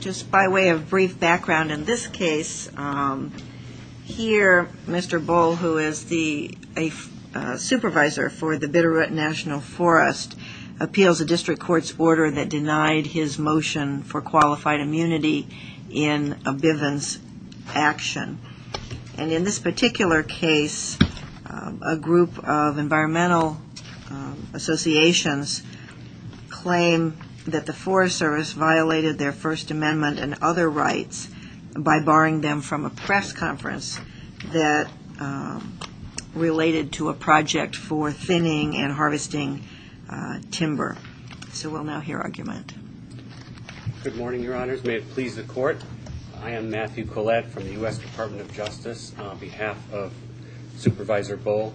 Just by way of brief background, in this case, here Mr. Bull, who is the supervisor for the Bitterroot National Forest, appeals a district court's order that denied his motion for qualified action. And in this particular case, a group of environmental associations claim that the Forest Service violated their First Amendment and other rights by barring them from a press conference that related to a project for thinning and harvesting timber. So we'll now hear argument. Good morning, Your Honors. May it please the Court. I am Matthew Collette from the U.S. Department of Justice on behalf of Supervisor Bull,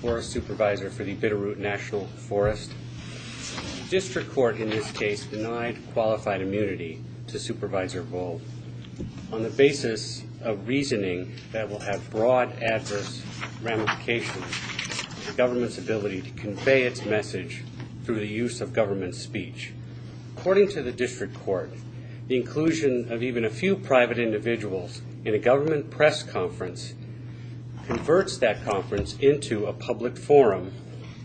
Forest Supervisor for the Bitterroot National Forest. District Court in this case denied qualified immunity to Supervisor Bull on the basis of reasoning that will have broad adverse ramifications to government's ability to convey its message through the use of government speech. According to the district court, the inclusion of even a few private individuals in a government press conference converts that conference into a public forum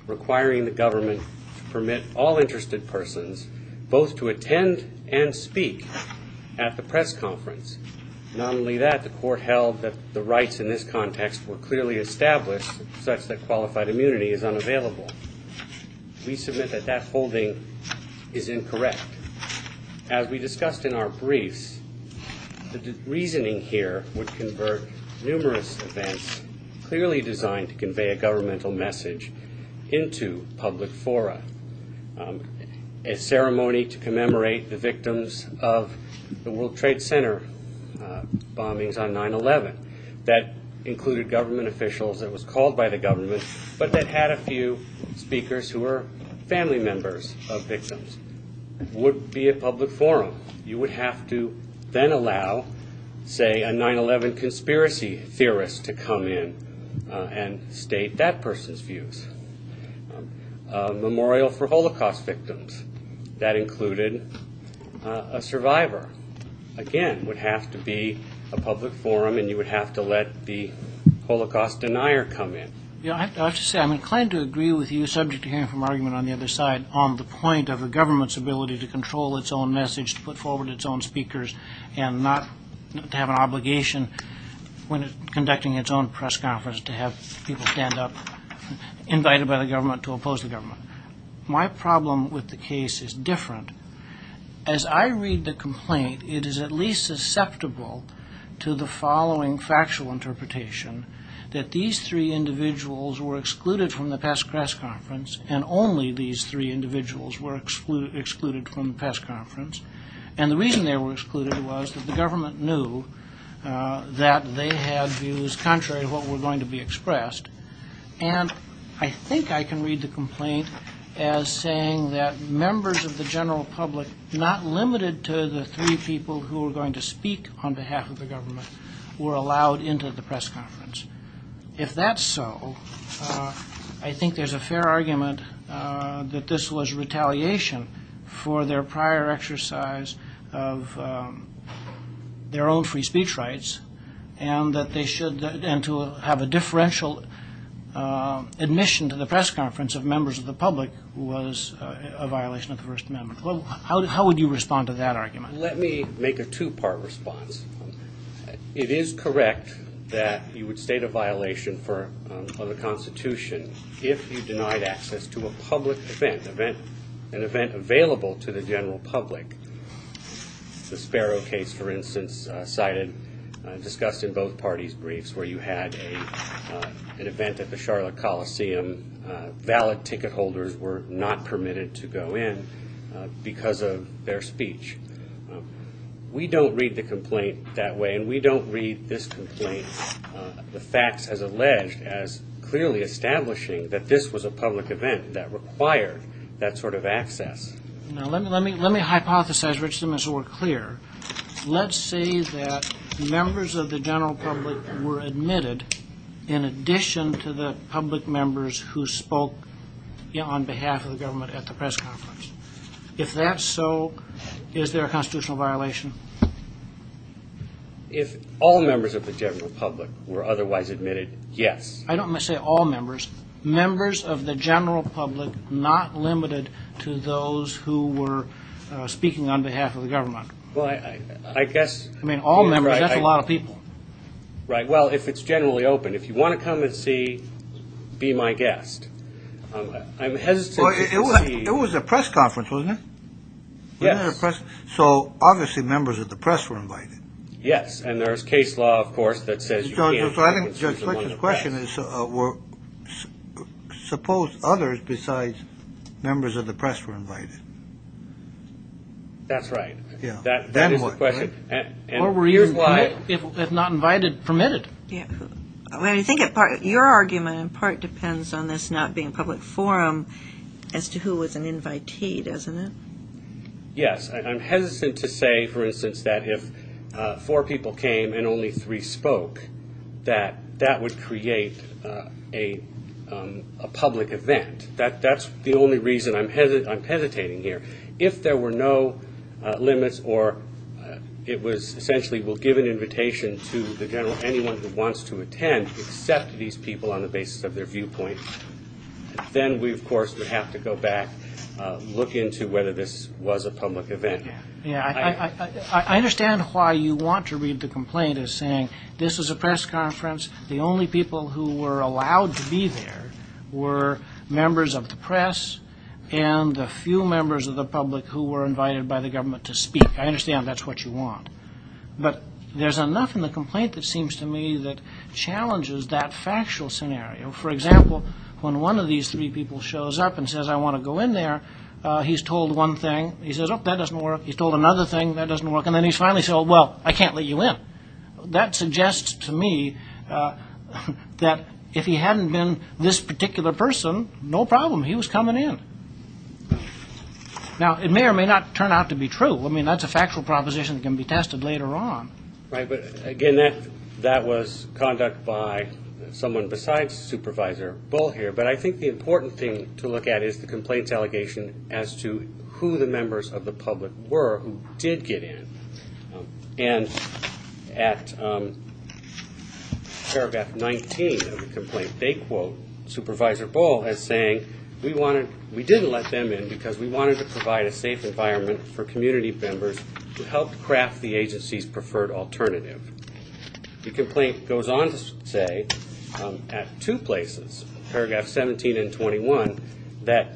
requiring the government to permit all interested persons both to attend and speak at the press conference. Not only that, the court held that the rights in this context were clearly established such that qualified immunity is not permitted. We submit that that holding is incorrect. As we discussed in our briefs, the reasoning here would convert numerous events clearly designed to convey a governmental message into public fora. A ceremony to commemorate the victims of the World Trade Center bombings on 9-11 that included government officials that was called by the government but that had a few speakers who were family members of victims would be a public forum. You would have to then allow, say, a 9-11 conspiracy theorist to come in and state that person's views. A memorial for Holocaust victims that included a survivor, again, would have to be a public forum and you I have to say, I'm inclined to agree with you subject to hearing from argument on the other side on the point of the government's ability to control its own message, to put forward its own speakers, and not to have an obligation when it's conducting its own press conference to have people stand up, invited by the government to oppose the government. My problem with the case is different. As I read the complaint, it is at least susceptible to the following factual interpretation, that these three individuals were excluded from the past press conference and only these three individuals were excluded from the past conference. And the reason they were excluded was that the government knew that they had views contrary to what were going to be expressed. And I think I can read the complaint as saying that members of the general public, not limited to the three people who are going to speak on behalf of the government, were allowed into the press conference. If that's so, I think there's a fair argument that this was retaliation for their prior exercise of their own free speech rights and that they should, and to have a differential admission to the press conference of members of the public was a violation of the First Amendment. How would you respond to that argument? Let me make a two-part response. It is correct that you would state a violation of the Constitution if you denied access to a public event, an event available to the general public. The Sparrow case, for instance, cited, discussed in both parties' briefs, where you had an event at the Charlotte Coliseum. Valid ticket holders were not permitted to go in because of their free speech. We don't read the complaint that way, and we don't read this complaint, the facts as alleged, as clearly establishing that this was a public event that required that sort of access. Now let me hypothesize, Richard, so we're clear. Let's say that members of the general public were admitted in addition to the Is there a constitutional violation? If all members of the general public were otherwise admitted, yes. I don't say all members. Members of the general public, not limited to those who were speaking on behalf of the government. Well, I guess... I mean, all members, that's a lot of people. Right, well, if it's generally open, if you want to come and see, be my guest. I'm hesitant to concede... It was a press conference, wasn't it? Yes. So, obviously, members of the press were invited. Yes, and there's case law, of course, that says you can't... So I think Judge Fletcher's question is, suppose others besides members of the press were invited. That's right. Yeah. That is the question. Or were you, if not invited, permitted? Well, I think your argument in part depends on this not being a public forum as to who was an invitee, doesn't it? Yes, I'm hesitant to say, for instance, that if four people came and only three spoke, that that would create a public event. That's the only reason I'm hesitating here. If there were no limits or it was essentially, we'll give an invitation to the general, anyone who wants to attend, accept these people on the basis of their viewpoint. Then we, of course, would have to go back, look into whether this was a public event. Yeah, I understand why you want to read the complaint as saying, this was a press conference, the only people who were allowed to be there were members of the press and a few members of the public who were invited by the government to speak. I understand that's what you want. But there's enough in the complaint that seems to me that challenges that factual scenario. For example, when one of these three people shows up and says, I want to go in there, he's told one thing, he says, oh, that doesn't work. He's told another thing, that doesn't work. And then he's finally said, oh, well, I can't let you in. That suggests to me that if he hadn't been this particular person, no problem. He was coming in. Now, it may or may not turn out to be true. I mean, that's a factual proposition that can be tested later on. Right. But again, that was conduct by someone besides Supervisor Bull here. But I think the important thing to look at is the complaints allegation as to who the members of the public were who did get in. And at paragraph 19 of the complaint, they quote Supervisor Bull as saying, we wanted, we didn't let them in because we wanted to provide a safe environment for community members to help craft the agency's preferred alternative. The complaint goes on to say at two places, paragraph 17 and 21, that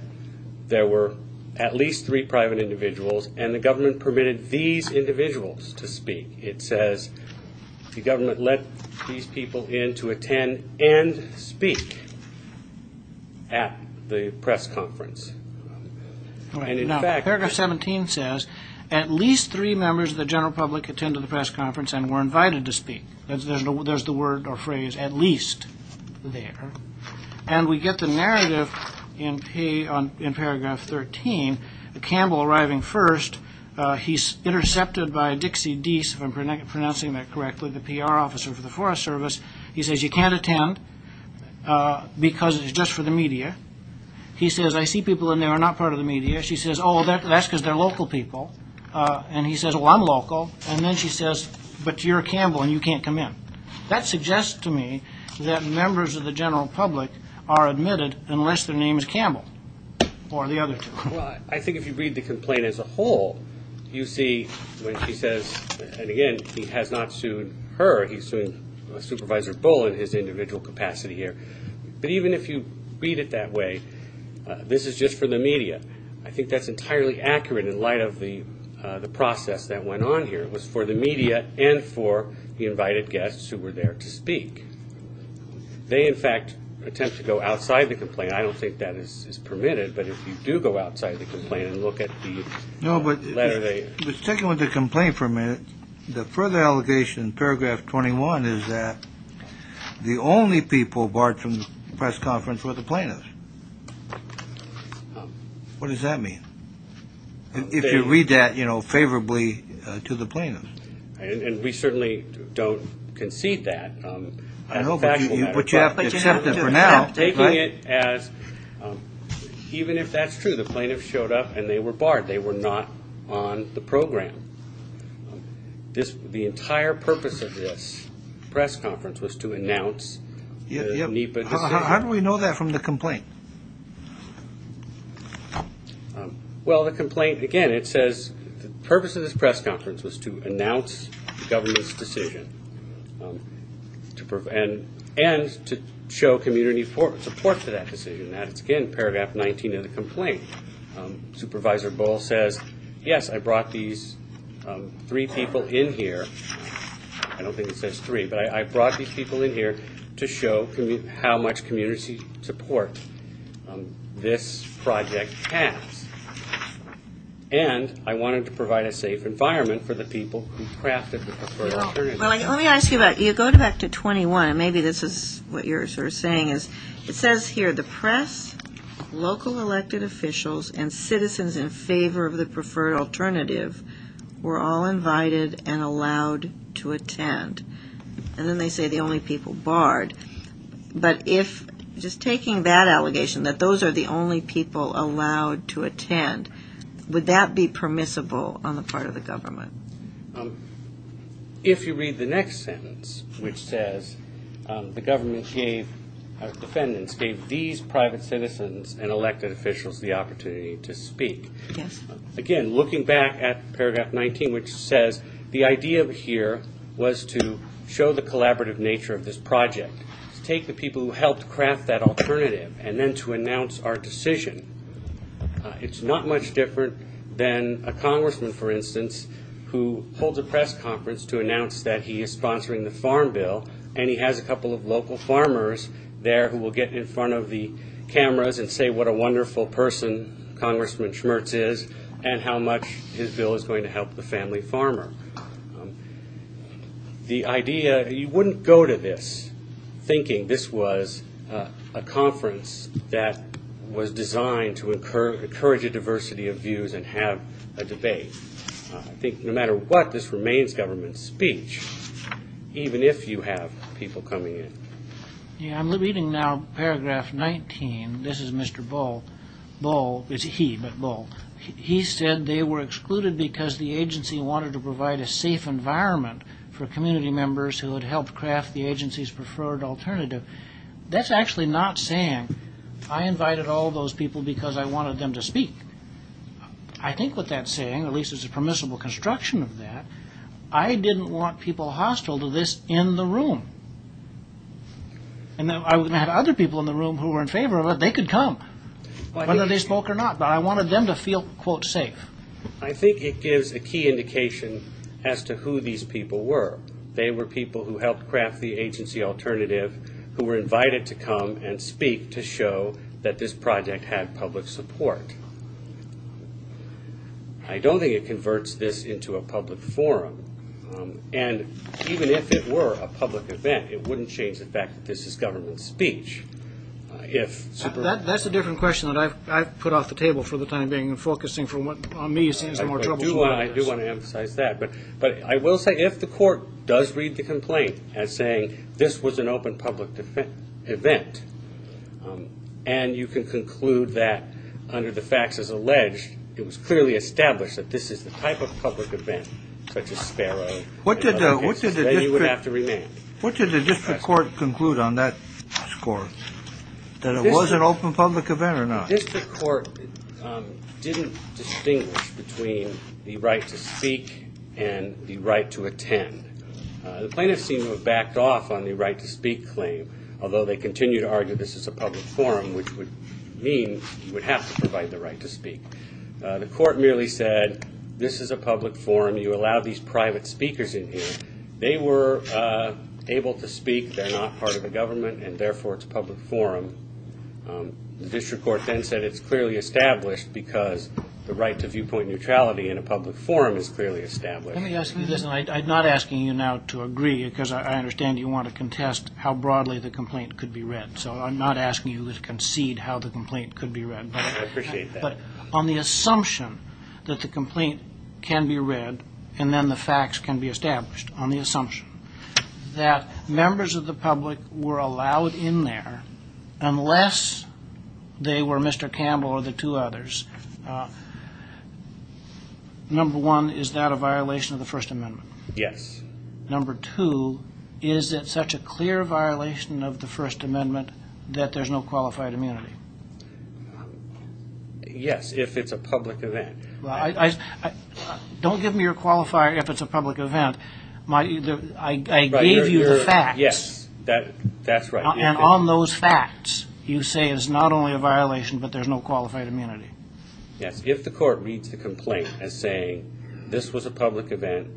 there were at least three private individuals and the government permitted these individuals to speak. It says the government let these people in to attend and speak at the press conference. All right. Now, paragraph 17 says, at least three members of the general public attended the press conference and were invited to speak. There's the word or phrase at least there. And we get the narrative in paragraph 13, Campbell arriving first, he's intercepted by Dixie Dease, if I'm pronouncing that correctly, the PR officer for the Forest Service. He says, you can't attend because it's just for the media. He says, I see people in there are not part of the media. She says, oh, that's because they're local people. And he says, well, I'm local. And then she says, but you're Campbell and you can't come in. That suggests to me that members of the general public are admitted unless their name is Campbell or the other two. Well, I think if you read the complaint as a whole, you see when she says, and again, he has not sued her. He's suing Supervisor Bull in his individual capacity here. But even if you read it that way, this is just for the media. I think that's entirely accurate in light of the process that went on here. It was for the media and for the invited guests who were there to speak. They, in fact, attempt to go outside the complaint. I don't think that is permitted. But if you do go outside the complaint and look at the letter, they... No, but sticking with the complaint for a minute, the further allegation in paragraph 21 is that the only people barred from the press conference were the plaintiffs. What does that mean? If you read that, you know, favorably to the plaintiff. And we certainly don't concede that. No, but you have to accept it for now. Taking it as... Even if that's true, the plaintiff showed up and they were barred. They were not on the program. The entire purpose of this press conference was to announce... How do we know that from the complaint? Well, the complaint, again, it says the purpose of this press conference was to announce the government's decision. And to show community support for that decision. And that's, again, paragraph 19 of the complaint. Supervisor Bohl says, yes, I brought these three people in here. I don't think it says three, but I brought these people in here to show how much community support they had. This project taps. And I wanted to provide a safe environment for the people who crafted the preferred alternative. Well, let me ask you about, you go back to 21, and maybe this is what you're sort of saying is, it says here, the press, local elected officials, and citizens in favor of the preferred alternative were all invited and allowed to attend. And then they say the only people barred. But if, just taking that allegation, that those are the only people allowed to attend, would that be permissible on the part of the government? If you read the next sentence, which says, the government gave, or defendants gave these private citizens and elected officials the opportunity to speak. Again, looking back at paragraph 19, which says, the idea here was to show the collaborative nature of this project. Take the people who helped craft that alternative and then to announce our decision. It's not much different than a congressman, for instance, who holds a press conference to announce that he is sponsoring the farm bill. And he has a couple of local farmers there who will get in front of the cameras and say what a wonderful person Congressman Schmertz is and how much his bill is going to help the family farmer. The idea, you wouldn't go to this. Thinking this was a conference that was designed to encourage a diversity of views and have a debate. I think no matter what, this remains government speech. Even if you have people coming in. Yeah, I'm reading now paragraph 19. This is Mr. Bull. Bull, it's he, but Bull. He said they were excluded because the agency wanted to provide a safe environment for community members who had helped craft the agency's preferred alternative. That's actually not saying I invited all those people because I wanted them to speak. I think what that's saying, at least it's a permissible construction of that, I didn't want people hostile to this in the room. And I would have other people in the room who were in favor of it. They could come whether they spoke or not. But I wanted them to feel, quote, safe. I think it gives a key indication as to who these people were. They were people who helped craft the agency alternative, who were invited to come and speak to show that this project had public support. I don't think it converts this into a public forum. And even if it were a public event, it wouldn't change the fact that this is government speech. That's a different question that I've put off the table for the time being. Focusing on me seems more troublesome. I do want to emphasize that. But I will say if the court does read the complaint as saying this was an open public event, and you can conclude that under the facts as alleged, it was clearly established that this is the type of public event, such as Sparrow, that you would have to remain. What did the district court conclude on that score? That it was an open public event or not? District court didn't distinguish between the right to speak and the right to attend. The plaintiffs seem to have backed off on the right to speak claim, although they continue to argue this is a public forum, which would mean you would have to provide the right to speak. The court merely said, this is a public forum. You allow these private speakers in here. They were able to speak. They're not part of the government, and therefore it's a public forum. The district court then said it's clearly established because the right to viewpoint neutrality in a public forum is clearly established. Let me ask you this, and I'm not asking you now to agree, because I understand you want to contest how broadly the complaint could be read. So I'm not asking you to concede how the complaint could be read. I appreciate that. But on the assumption that the complaint can be read, and then the facts can be established, on the assumption that members of the public were allowed in there, unless they were Mr. Campbell or the two others, number one, is that a violation of the First Amendment? Yes. Number two, is it such a clear violation of the First Amendment that there's no qualified immunity? Yes, if it's a public event. Don't give me your qualifier if it's a public event. I gave you the facts. Yes, that's right. And on those facts, you say it's not only a violation, but there's no qualified immunity. Yes, if the court reads the complaint as saying this was a public event,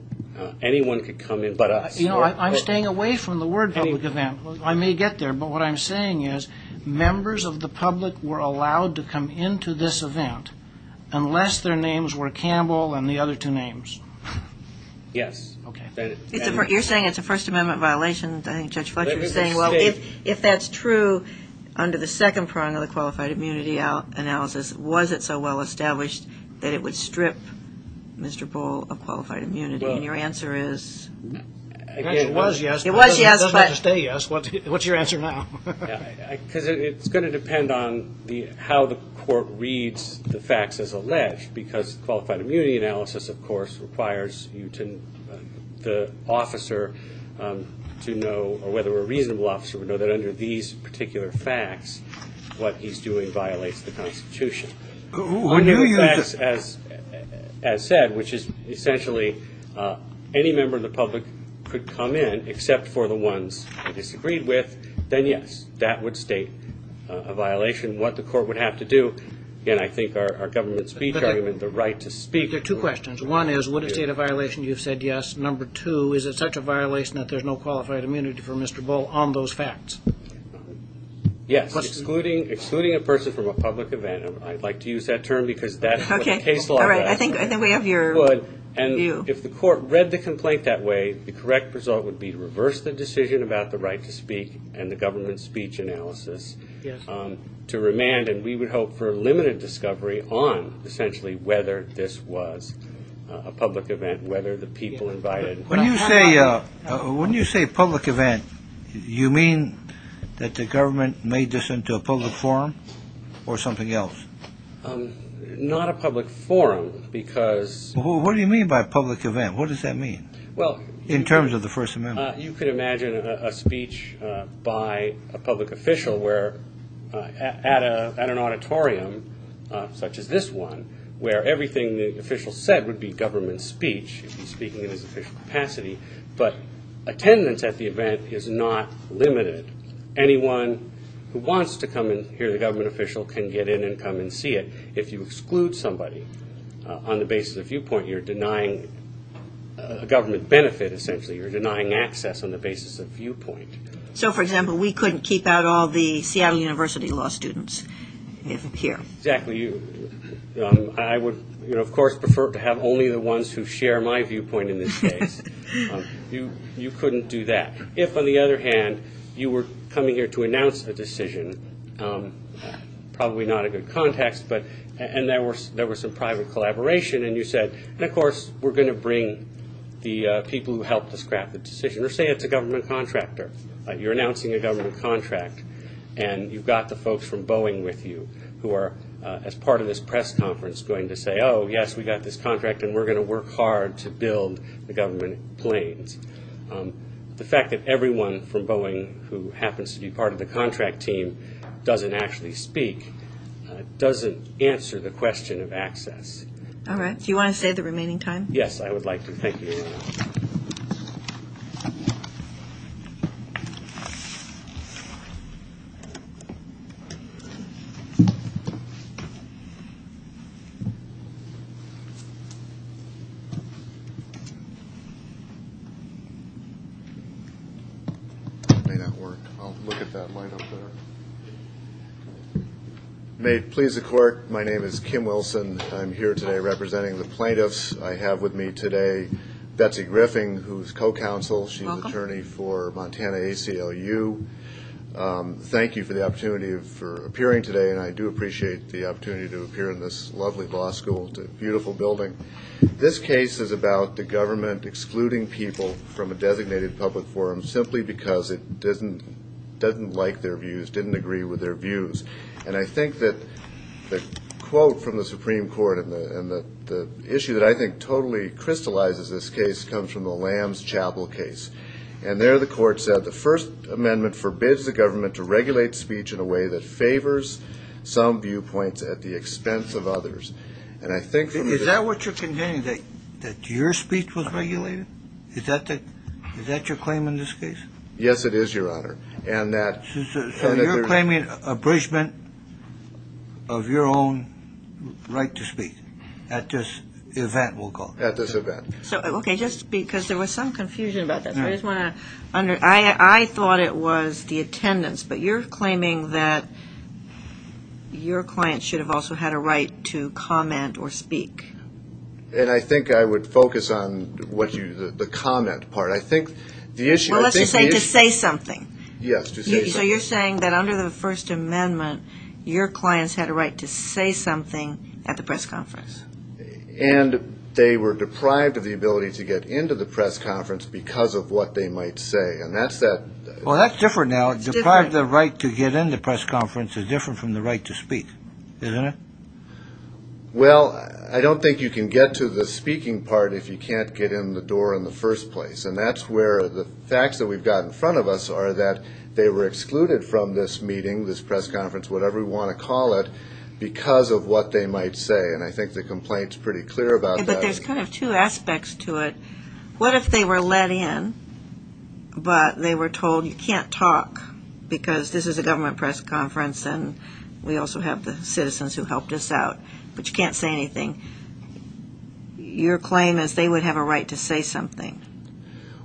anyone could come in but us. You know, I'm staying away from the word public event. I may get there, but what I'm saying is members of the public were allowed to come into this event unless their names were Campbell and the other two names. Yes. You're saying it's a First Amendment violation. I think Judge Fletcher is saying, if that's true under the second prong of the qualified immunity analysis, was it so well established that it would strip Mr. Bull of qualified immunity? And your answer is? It actually was yes, but it doesn't have to stay yes. What's your answer now? Because it's going to depend on how the court reads the facts as alleged, because qualified immunity analysis, of course, requires the officer to know, or whether a reasonable officer would know, that under these particular facts, what he's doing violates the Constitution. One of the facts, as said, which is essentially any member of the public could come in except for the ones they disagreed with, then yes, that would state a violation. What the court would have to do, again, I think our government speech argument, the right to speak. There are two questions. One is, would it state a violation you've said yes? Number two, is it such a violation that there's no qualified immunity for Mr. Bull on those facts? Yes, excluding a person from a public event. I'd like to use that term because that's what the case law does. I think we have your view. And if the court read the complaint that way, the correct result would be to reverse the decision about the right to speak and the government speech analysis to remand, and we would hope for a limited discovery on, essentially, whether this was a public event, whether the people invited. When you say public event, you mean that the government made this into a public forum or something else? Not a public forum because... What do you mean by public event? What does that mean in terms of the First Amendment? You could imagine a speech by a public official at an auditorium such as this one, where everything the official said would be government speech. He'd be speaking in his official capacity. But attendance at the event is not limited. Anyone who wants to come and hear the government official can get in and come and see it. If you exclude somebody on the basis of viewpoint, you're denying a government benefit, essentially. You're denying access on the basis of viewpoint. So, for example, we couldn't keep out all the Seattle University law students here? Exactly. I would, of course, prefer to have only the ones who share my viewpoint in this case. You couldn't do that. If, on the other hand, you were coming here to announce a decision, probably not a good context, and there was some private collaboration, and you said, and, of course, we're going to bring the people who helped us craft the decision. Or say it's a government contractor. You're announcing a government contract, and you've got the folks from Boeing with you who are, as part of this press conference, going to say, oh, yes, we got this contract, and we're going to work hard to build the government planes. The fact that everyone from Boeing, who happens to be part of the contract team, doesn't actually speak, doesn't answer the question of access. All right. Do you want to say the remaining time? Yes, I would like to. Thank you. May that work? I'll look at that line up there. May it please the court, my name is Kim Wilson. I'm here today representing the plaintiffs. I have with me today Betsy Griffin, who's co-counsel. She's attorney for Montana ACLU. Thank you for the opportunity for appearing today, and I do appreciate the opportunity to appear in this lovely law school. It's a beautiful building. This case is about the government excluding people from a designated public forum simply because it doesn't like their views, didn't agree with their views. And I think that the quote from the Supreme Court and the issue that I think totally crystallizes this case comes from the Lamb's Chapel case. the First Amendment forbids the government to regulate speech in a way that favors some viewpoints at the expense of others. And I think... Is that what you're conveying? That your speech was regulated? Is that your claim in this case? Yes, it is, Your Honor. And that... So you're claiming abridgement of your own right to speak at this event, we'll call it. At this event. So, okay, just because there was some confusion about that. I just want to under... I thought it was the attendance, but you're claiming that your client should have also had a right to comment or speak. And I think I would focus on the comment part. I think the issue... Unless you're saying to say something. Yes, to say something. So you're saying that under the First Amendment, your clients had a right to say something at the press conference. And they were deprived of the ability to get into the press conference because of what they might say. And that's that... That's different now. Deprived of the right to get in the press conference is different from the right to speak, isn't it? Well, I don't think you can get to the speaking part if you can't get in the door in the first place. And that's where the facts that we've got in front of us are that they were excluded from this meeting, this press conference, whatever you want to call it, because of what they might say. And I think the complaint's pretty clear about that. But there's kind of two aspects to it. What if they were let in, but they were told you can't talk because this is a government press conference and we also have the citizens who helped us out, but you can't say anything. Your claim is they would have a right to say something.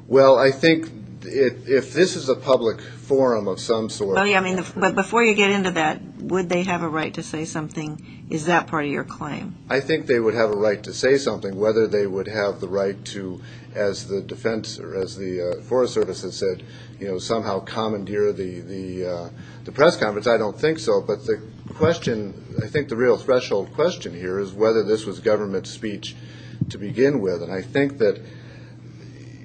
Well, I think if this is a public forum of some sort... Well, yeah, I mean, but before you get into that, would they have a right to say something? Is that part of your claim? I think they would have a right to say something, whether they would have the right to as the defense or as the Forest Service has said, you know, somehow commandeer the press conference. I don't think so. But the question, I think the real threshold question here is whether this was government speech to begin with. And I think that,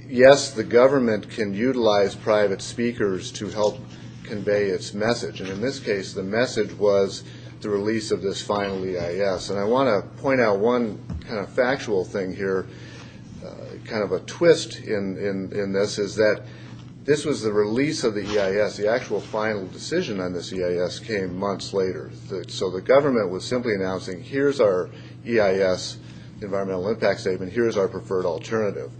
yes, the government can utilize private speakers to help convey its message. And in this case, the message was the release of this final EIS. And I want to point out one kind of factual thing here, kind of a twist in this, is that this was the release of the EIS. The actual final decision on this EIS came months later. So the government was simply announcing, here's our EIS environmental impact statement. Here's our preferred alternative.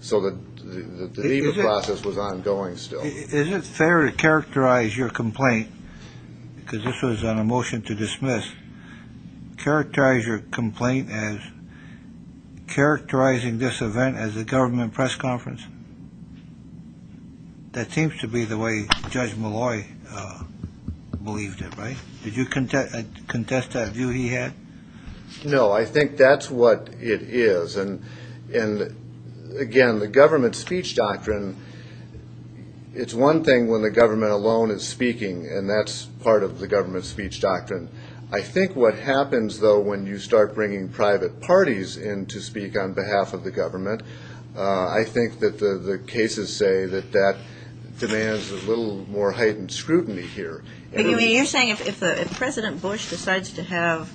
So the process was ongoing still. Is it fair to characterize your complaint? Because this was on a motion to dismiss. Characterize your complaint as characterizing this event as a government press conference? That seems to be the way Judge Malloy believed it, right? Did you contest that view he had? No, I think that's what it is. And again, the government speech doctrine, it's one thing when the government alone is speaking, and that's part of the government speech doctrine. I think what happens, though, when you start bringing private parties in to speak on behalf of the government, I think that the cases say that that demands a little more heightened scrutiny here. You're saying if President Bush decides to have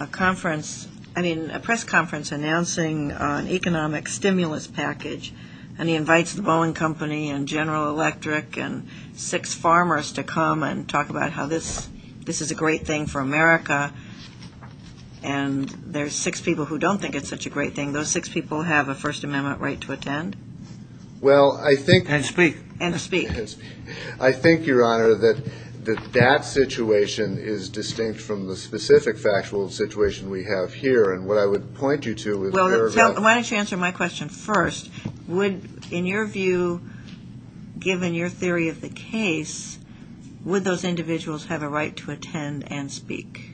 a conference, I mean, a press conference announcing an economic stimulus package, and he invites the Boeing Company and General Electric and six farmers to come and talk about this is a great thing for America, and there's six people who don't think it's such a great thing, those six people have a First Amendment right to attend? Well, I think... And speak. And speak. I think, Your Honor, that that situation is distinct from the specific factual situation we have here. And what I would point you to is... Well, why don't you answer my question first. Would, in your view, given your theory of the case, would those individuals have a right to attend and speak?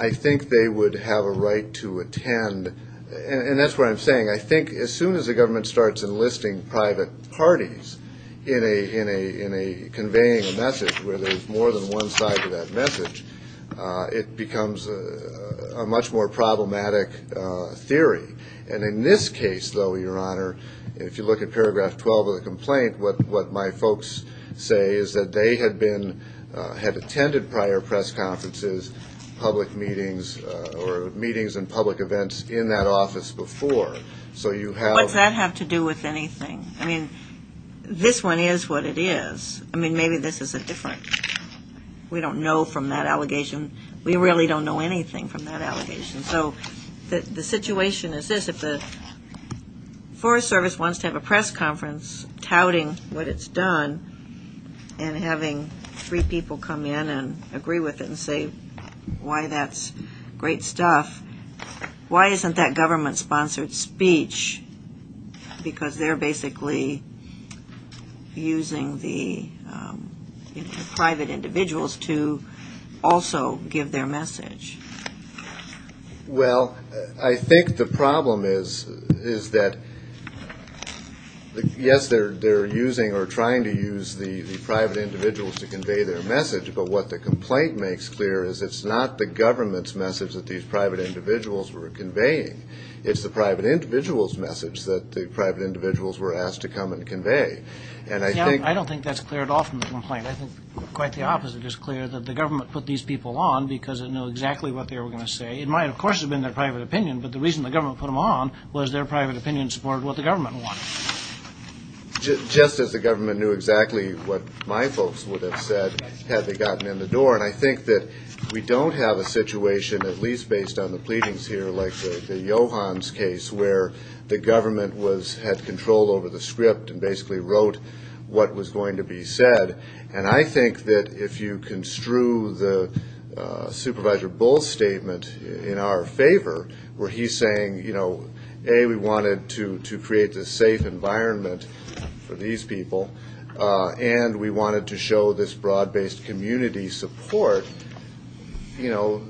I think they would have a right to attend. And that's what I'm saying. I think as soon as the government starts enlisting private parties in a conveying a message where there's more than one side to that message, it becomes a much more problematic theory. And in this case, though, Your Honor, if you look at paragraph 12 of the complaint, what my folks say is that they had attended prior press conferences, public meetings, or meetings and public events in that office before. So you have... What's that have to do with anything? I mean, this one is what it is. I mean, maybe this is a different... We don't know from that allegation. We really don't know anything from that allegation. So the situation is this. If the Forest Service wants to have a press conference touting what it's done and having three people come in and agree with it and say why that's great stuff, why isn't that government-sponsored speech? Because they're basically using the private individuals to also give their message. Well, I think the problem is that, yes, they're using or trying to use the private individuals to convey their message, but what the complaint makes clear is it's not the government's message that these private individuals were conveying. It's the private individual's message that the private individuals were asked to come and convey. And I think... I don't think that's clear at all from the complaint. I think quite the opposite is clear, that the government put these people on because it knew exactly what they were going to say. It might, of course, have been their private opinion, but the reason the government put them on was their private opinion supported what the government wanted. Just as the government knew exactly what my folks would have said had they gotten in the door. And I think that we don't have a situation, at least based on the pleadings here, like the Johans case, where the government had control over the script and basically wrote what was going to be said. And I think that if you construe the Supervisor Bull's statement in our favor, where he's saying, you know, A, we wanted to create this safe environment for these people, and we wanted to show this broad-based community support. You know,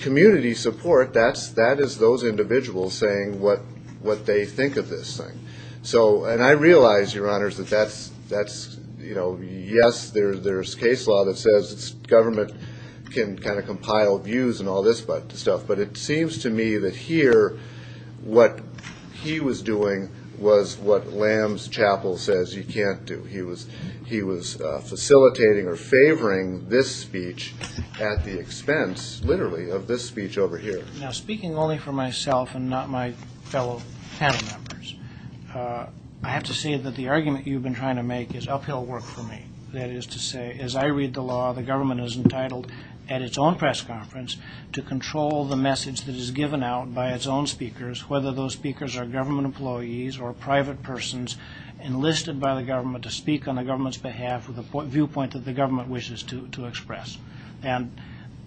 community support, that is those individuals saying what they think of this thing. So, and I realize, Your Honors, that that's, you know, yes, there's case law that says government can kind of compile views and all this stuff. But it seems to me that here, what he was doing was what Lamb's Chapel says you can't do. He was facilitating or favoring this speech at the expense, literally, of this speech over here. Now, speaking only for myself and not my fellow panel members, I have to say that the argument you've been trying to make is uphill work for me. That is to say, as I read the law, the government is entitled at its own press conference to control the message that is given out by its own speakers, whether those speakers are government employees or private persons enlisted by the government to speak on the government's behalf with a viewpoint that the government wishes to express. And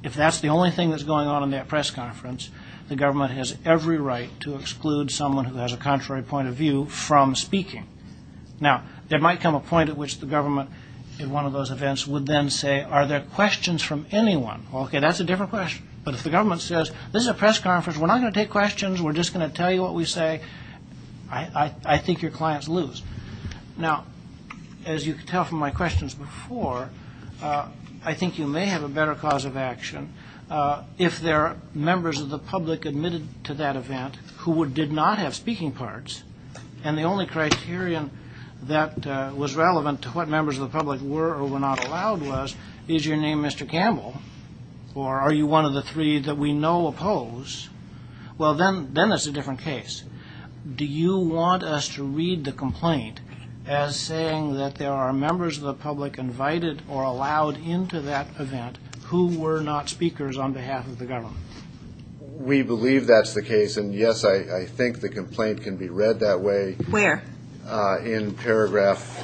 if that's the only thing that's going on in that press conference, the government has every right to exclude someone who has a contrary point of view from speaking. Now, there might come a point at which the government in one of those events would then say, are there questions from anyone? Okay, that's a different question. But if the government says, this is a press conference, we're not going to take questions, we're just going to tell you what we say, I think your clients lose. Now, as you can tell from my questions before, I think you may have a better cause of action if there are members of the public admitted to that event who did not have speaking parts. And the only criterion that was relevant to what members of the public were or were not allowed was, is your name Mr. Campbell? Or are you one of the three that we know oppose? Well, then that's a different case. Do you want us to read the complaint as saying that there are members of the public invited or allowed into that event who were not speakers on behalf of the government? We believe that's the case. And yes, I think the complaint can be read that way. Where? In paragraph,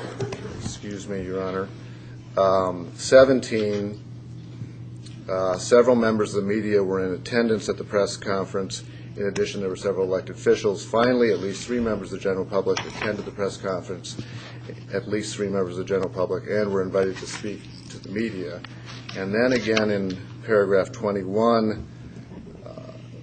excuse me, Your Honor. 17, several members of the media were in attendance at the press conference. In addition, there were several elected officials. Finally, at least three members of the general public attended the press conference. At least three members of the general public and were invited to speak to the media. And then again, in paragraph 21,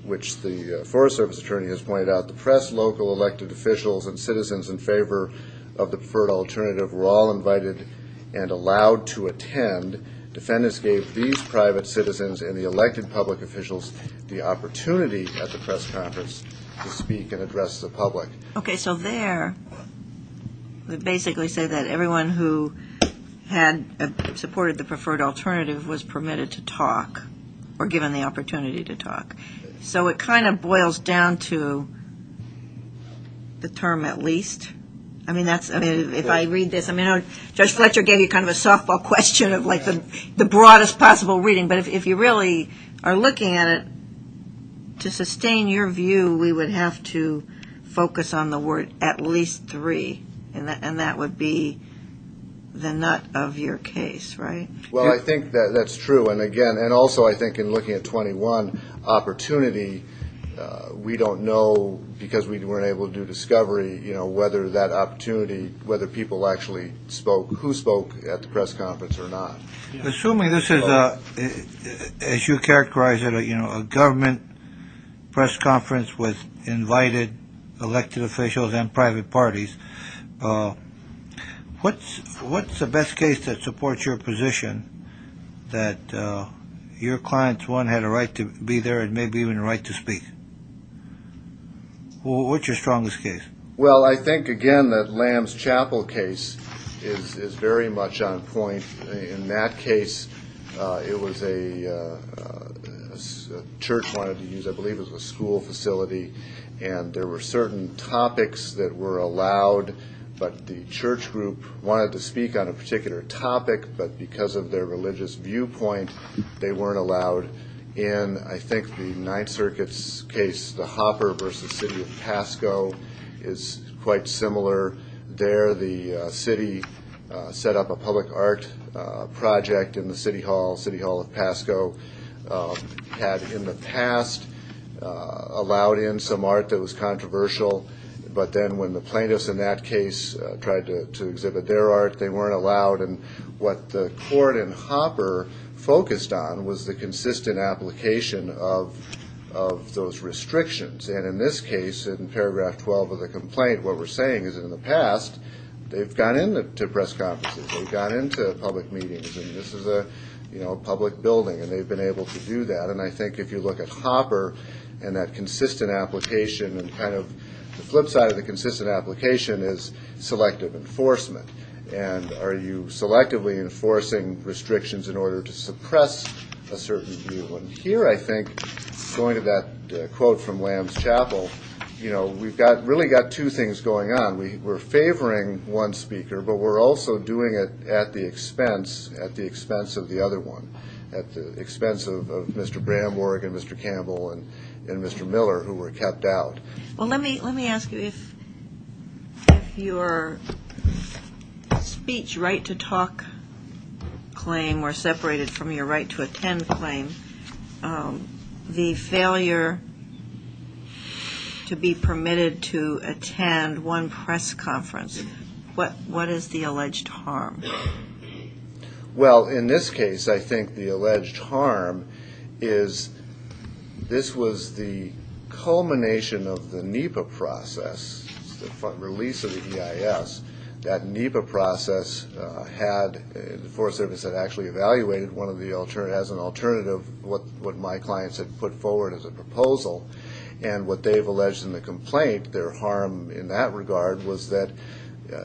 which the Forest Service attorney has pointed out, the press local elected officials and citizens in favor of the preferred alternative were all invited and allowed to attend. Defendants gave these private citizens and the elected public officials the opportunity at the press conference to speak and address the public. Okay, so there, we basically say that everyone who had supported the preferred alternative was permitted to talk or given the opportunity to talk. So it kind of boils down to the term at least. I mean, that's, I mean, if I read this, I mean, Judge Fletcher gave you kind of a softball question of like the broadest possible reading. But if you really are looking at it, to sustain your view, we would have to focus on the word at least three. And that would be the nut of your case, right? Well, I think that that's true. And again, and also I think in looking at 21 opportunity, we don't know because we weren't able to do discovery, you know, whether that opportunity, whether people actually spoke, who spoke at the press conference or not. Assuming this is a, as you characterize it, you know, a government press conference with invited elected officials and private parties, what's the best case that supports your position that your clients, one, had a right to be there and maybe even the right to speak? What's your strongest case? Well, I think again that Lamb's Chapel case is very much on point. In that case, it was a church wanted to use, I believe it was a school facility. And there were certain topics that were allowed, but the church group wanted to speak on a particular topic. But because of their religious viewpoint, they weren't allowed. And I think the Ninth Circuit's case, the Hopper versus City of Pasco is quite similar. There, the city set up a public art project in the city hall, City Hall of Pasco. Had in the past allowed in some art that was controversial. But then when the plaintiffs in that case tried to exhibit their art, they weren't allowed. And what the court in Hopper focused on was the consistent application of those restrictions. And in this case, in paragraph 12 of the complaint, what we're saying is in the past, they've gone in to press conferences, they've gone into public meetings. And this is a public building and they've been able to do that. And I think if you look at Hopper and that consistent application and kind of the flip side of the consistent application is selective enforcement. And are you selectively enforcing restrictions in order to suppress a certain view? And here, I think, going to that quote from Lamb's Chapel, you know, we've got really got two things going on. We were favoring one speaker, but we're also doing it at the expense, at the expense of the other one, at the expense of Mr. Bramborg and Mr. Campbell and Mr. Miller who were kept out. Well, let me ask you if your speech right to talk claim or separated from your right to attend claim, the failure to be permitted to attend one press conference, what is the alleged harm? Well, in this case, I think the alleged harm is this was the culmination of the NEPA process, the release of the EIS. That NEPA process had, the Forest Service had actually evaluated one of the, as an alternative what my clients had put forward as a proposal. And what they've alleged in the complaint, their harm in that regard was that,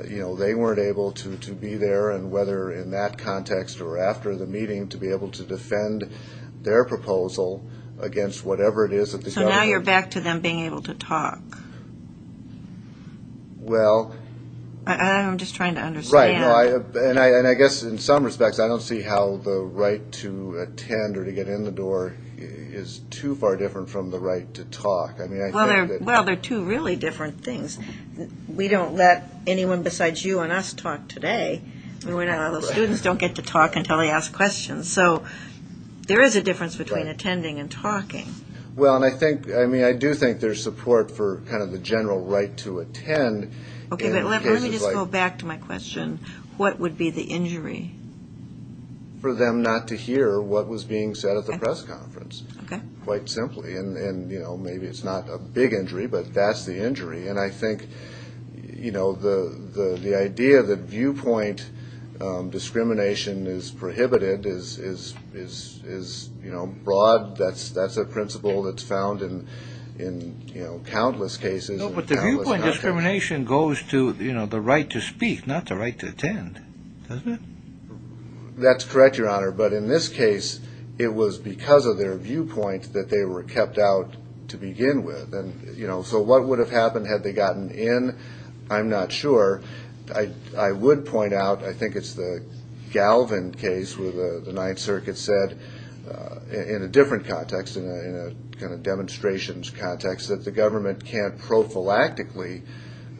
you know, they weren't able to be there. And whether in that context or after the meeting to be able to defend their proposal against whatever it is that the government... So now you're back to them being able to talk. Well... I'm just trying to understand. Right. And I guess in some respects, I don't see how the right to attend or to get in the door is too far different from the right to talk. I mean, I think that... Well, they're two really different things. We don't let anyone besides you and us talk today. The students don't get to talk until they ask questions. So there is a difference between attending and talking. Well, and I think, I mean, I do think there's support for kind of the general right to attend. Okay, but let me just go back to my question. What would be the injury? For them not to hear what was being said at the press conference. Okay. Quite simply. And, you know, maybe it's not a big injury, but that's the injury. And I think, you know, the idea that viewpoint discrimination is prohibited is, you know, broad. That's a principle that's found in, you know, countless cases. No, but the viewpoint discrimination goes to, you know, the right to speak, not the right to attend, doesn't it? That's correct, Your Honor. But in this case, it was because of their viewpoint that they were kept out to begin with. And, you know, so what would have happened had they gotten in? I'm not sure. I would point out, I think it's the Galvin case where the Ninth Circuit said, in a different context, in a kind of demonstrations context, that the government can't prophylactically,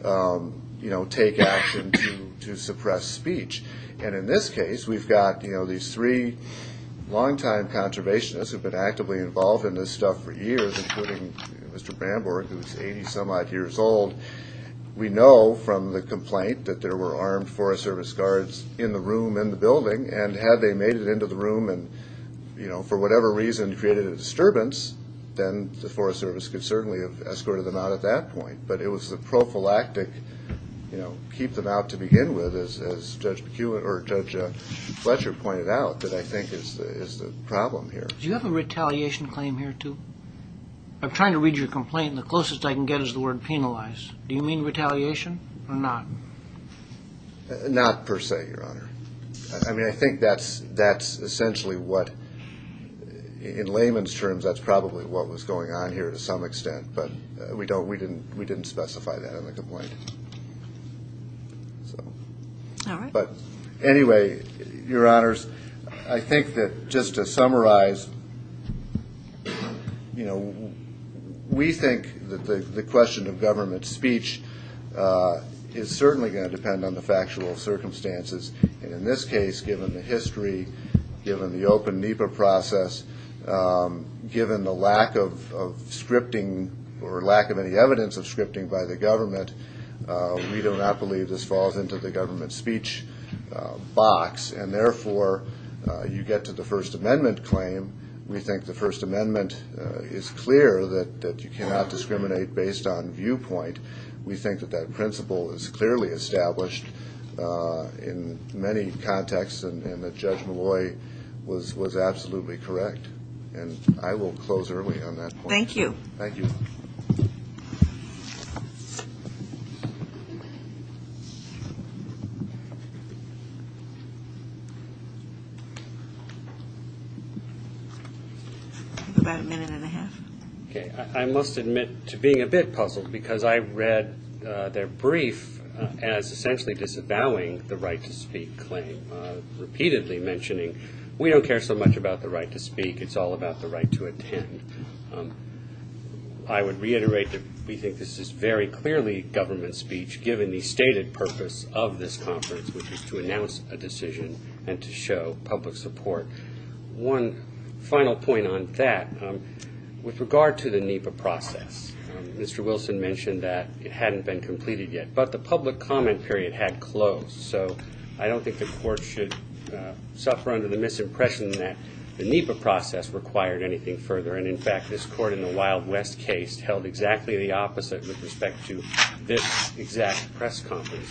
you know, take action to suppress speech. And in this case, we've got, you know, these three longtime conservationists who've been actively involved in this stuff for years, including Mr. Bramborg, who's 80 some odd years old. We know from the complaint that there were armed Forest Service guards in the room in the building. And had they made it into the room and, you know, for whatever reason, created a disturbance, then the Forest Service could certainly have escorted them out at that point. But it was the prophylactic, you know, keep them out to begin with, as Judge McEwen or Judge Fletcher pointed out, that I think is the problem here. Do you have a retaliation claim here too? I'm trying to read your complaint. The closest I can get is the word penalized. Do you mean retaliation or not? Not per se, Your Honor. I mean, I think that's essentially what, in layman's terms, that's probably what was going on here to some extent. But we didn't specify that in the complaint. But anyway, Your Honors, I think that just to summarize, you know, we think that the question of government speech is certainly going to depend on the factual circumstances. And in this case, given the history, given the open NEPA process, given the lack of scripting or lack of any evidence of scripting by the government, we do not believe this falls into the government speech box. And therefore, you get to the First Amendment claim. We think the First Amendment is clear that you cannot discriminate based on viewpoint. We think that that principle is clearly established in many contexts, and that Judge Molloy was absolutely correct. And I will close early on that point. Thank you. Thank you. About a minute and a half. I must admit to being a bit puzzled because I read their brief as essentially disavowing the right to speak claim, repeatedly mentioning, we don't care so much about the right to speak. It's all about the right to attend. I would reiterate that we think this is very clearly government speech, given the stated purpose of this conference, which is to announce a decision and to show public support. One final point on that, with regard to the NEPA process, Mr. Wilson mentioned that it hadn't been completed yet, but the public comment period had closed. So I don't think the court should suffer under the misimpression that the NEPA process required anything further. And in fact, this court in the Wild West case held exactly the opposite with respect to this exact press conference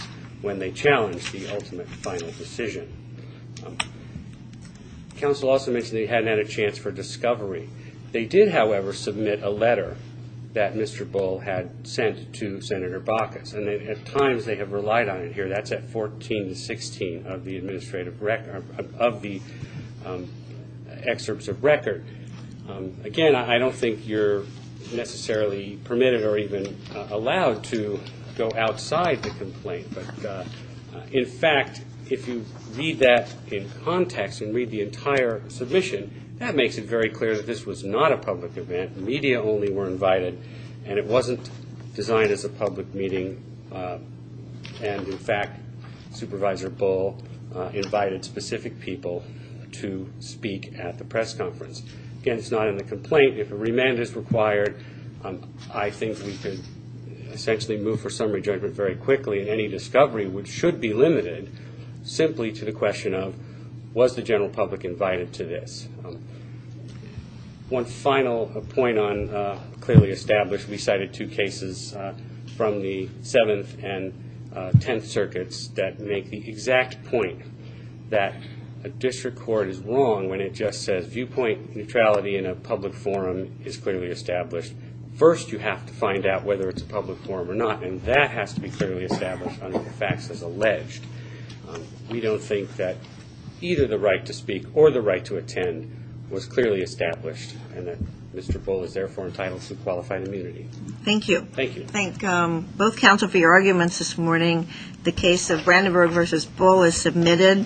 Counsel also mentioned they hadn't had a chance for discovery. They did, however, submit a letter that Mr. Bull had sent to Senator Baucus. And at times they have relied on it here. That's at 14 to 16 of the administrative record of the excerpts of record. Again, I don't think you're necessarily permitted or even allowed to go outside the complaint. But in fact, if you read that in context and read the entire submission, that makes it very clear that this was not a public event. Media only were invited and it wasn't designed as a public meeting. And in fact, Supervisor Bull invited specific people to speak at the press conference. Again, it's not in the complaint. If a remand is required, I think we could essentially move for summary judgment very quickly. And any discovery which should be limited simply to the question of was the general public invited to this? One final point on clearly established. We cited two cases from the 7th and 10th circuits that make the exact point that a district court is wrong when it just says viewpoint neutrality in a public forum is clearly established. First, you have to find out whether it's a public forum or not. And that has to be clearly established under the facts as alleged. We don't think that either the right to speak or the right to attend was clearly established and that Mr. Bull is therefore entitled to qualified immunity. Thank you. Thank you. Thank both counsel for your arguments this morning. The case of Brandenburg versus Bull is submitted.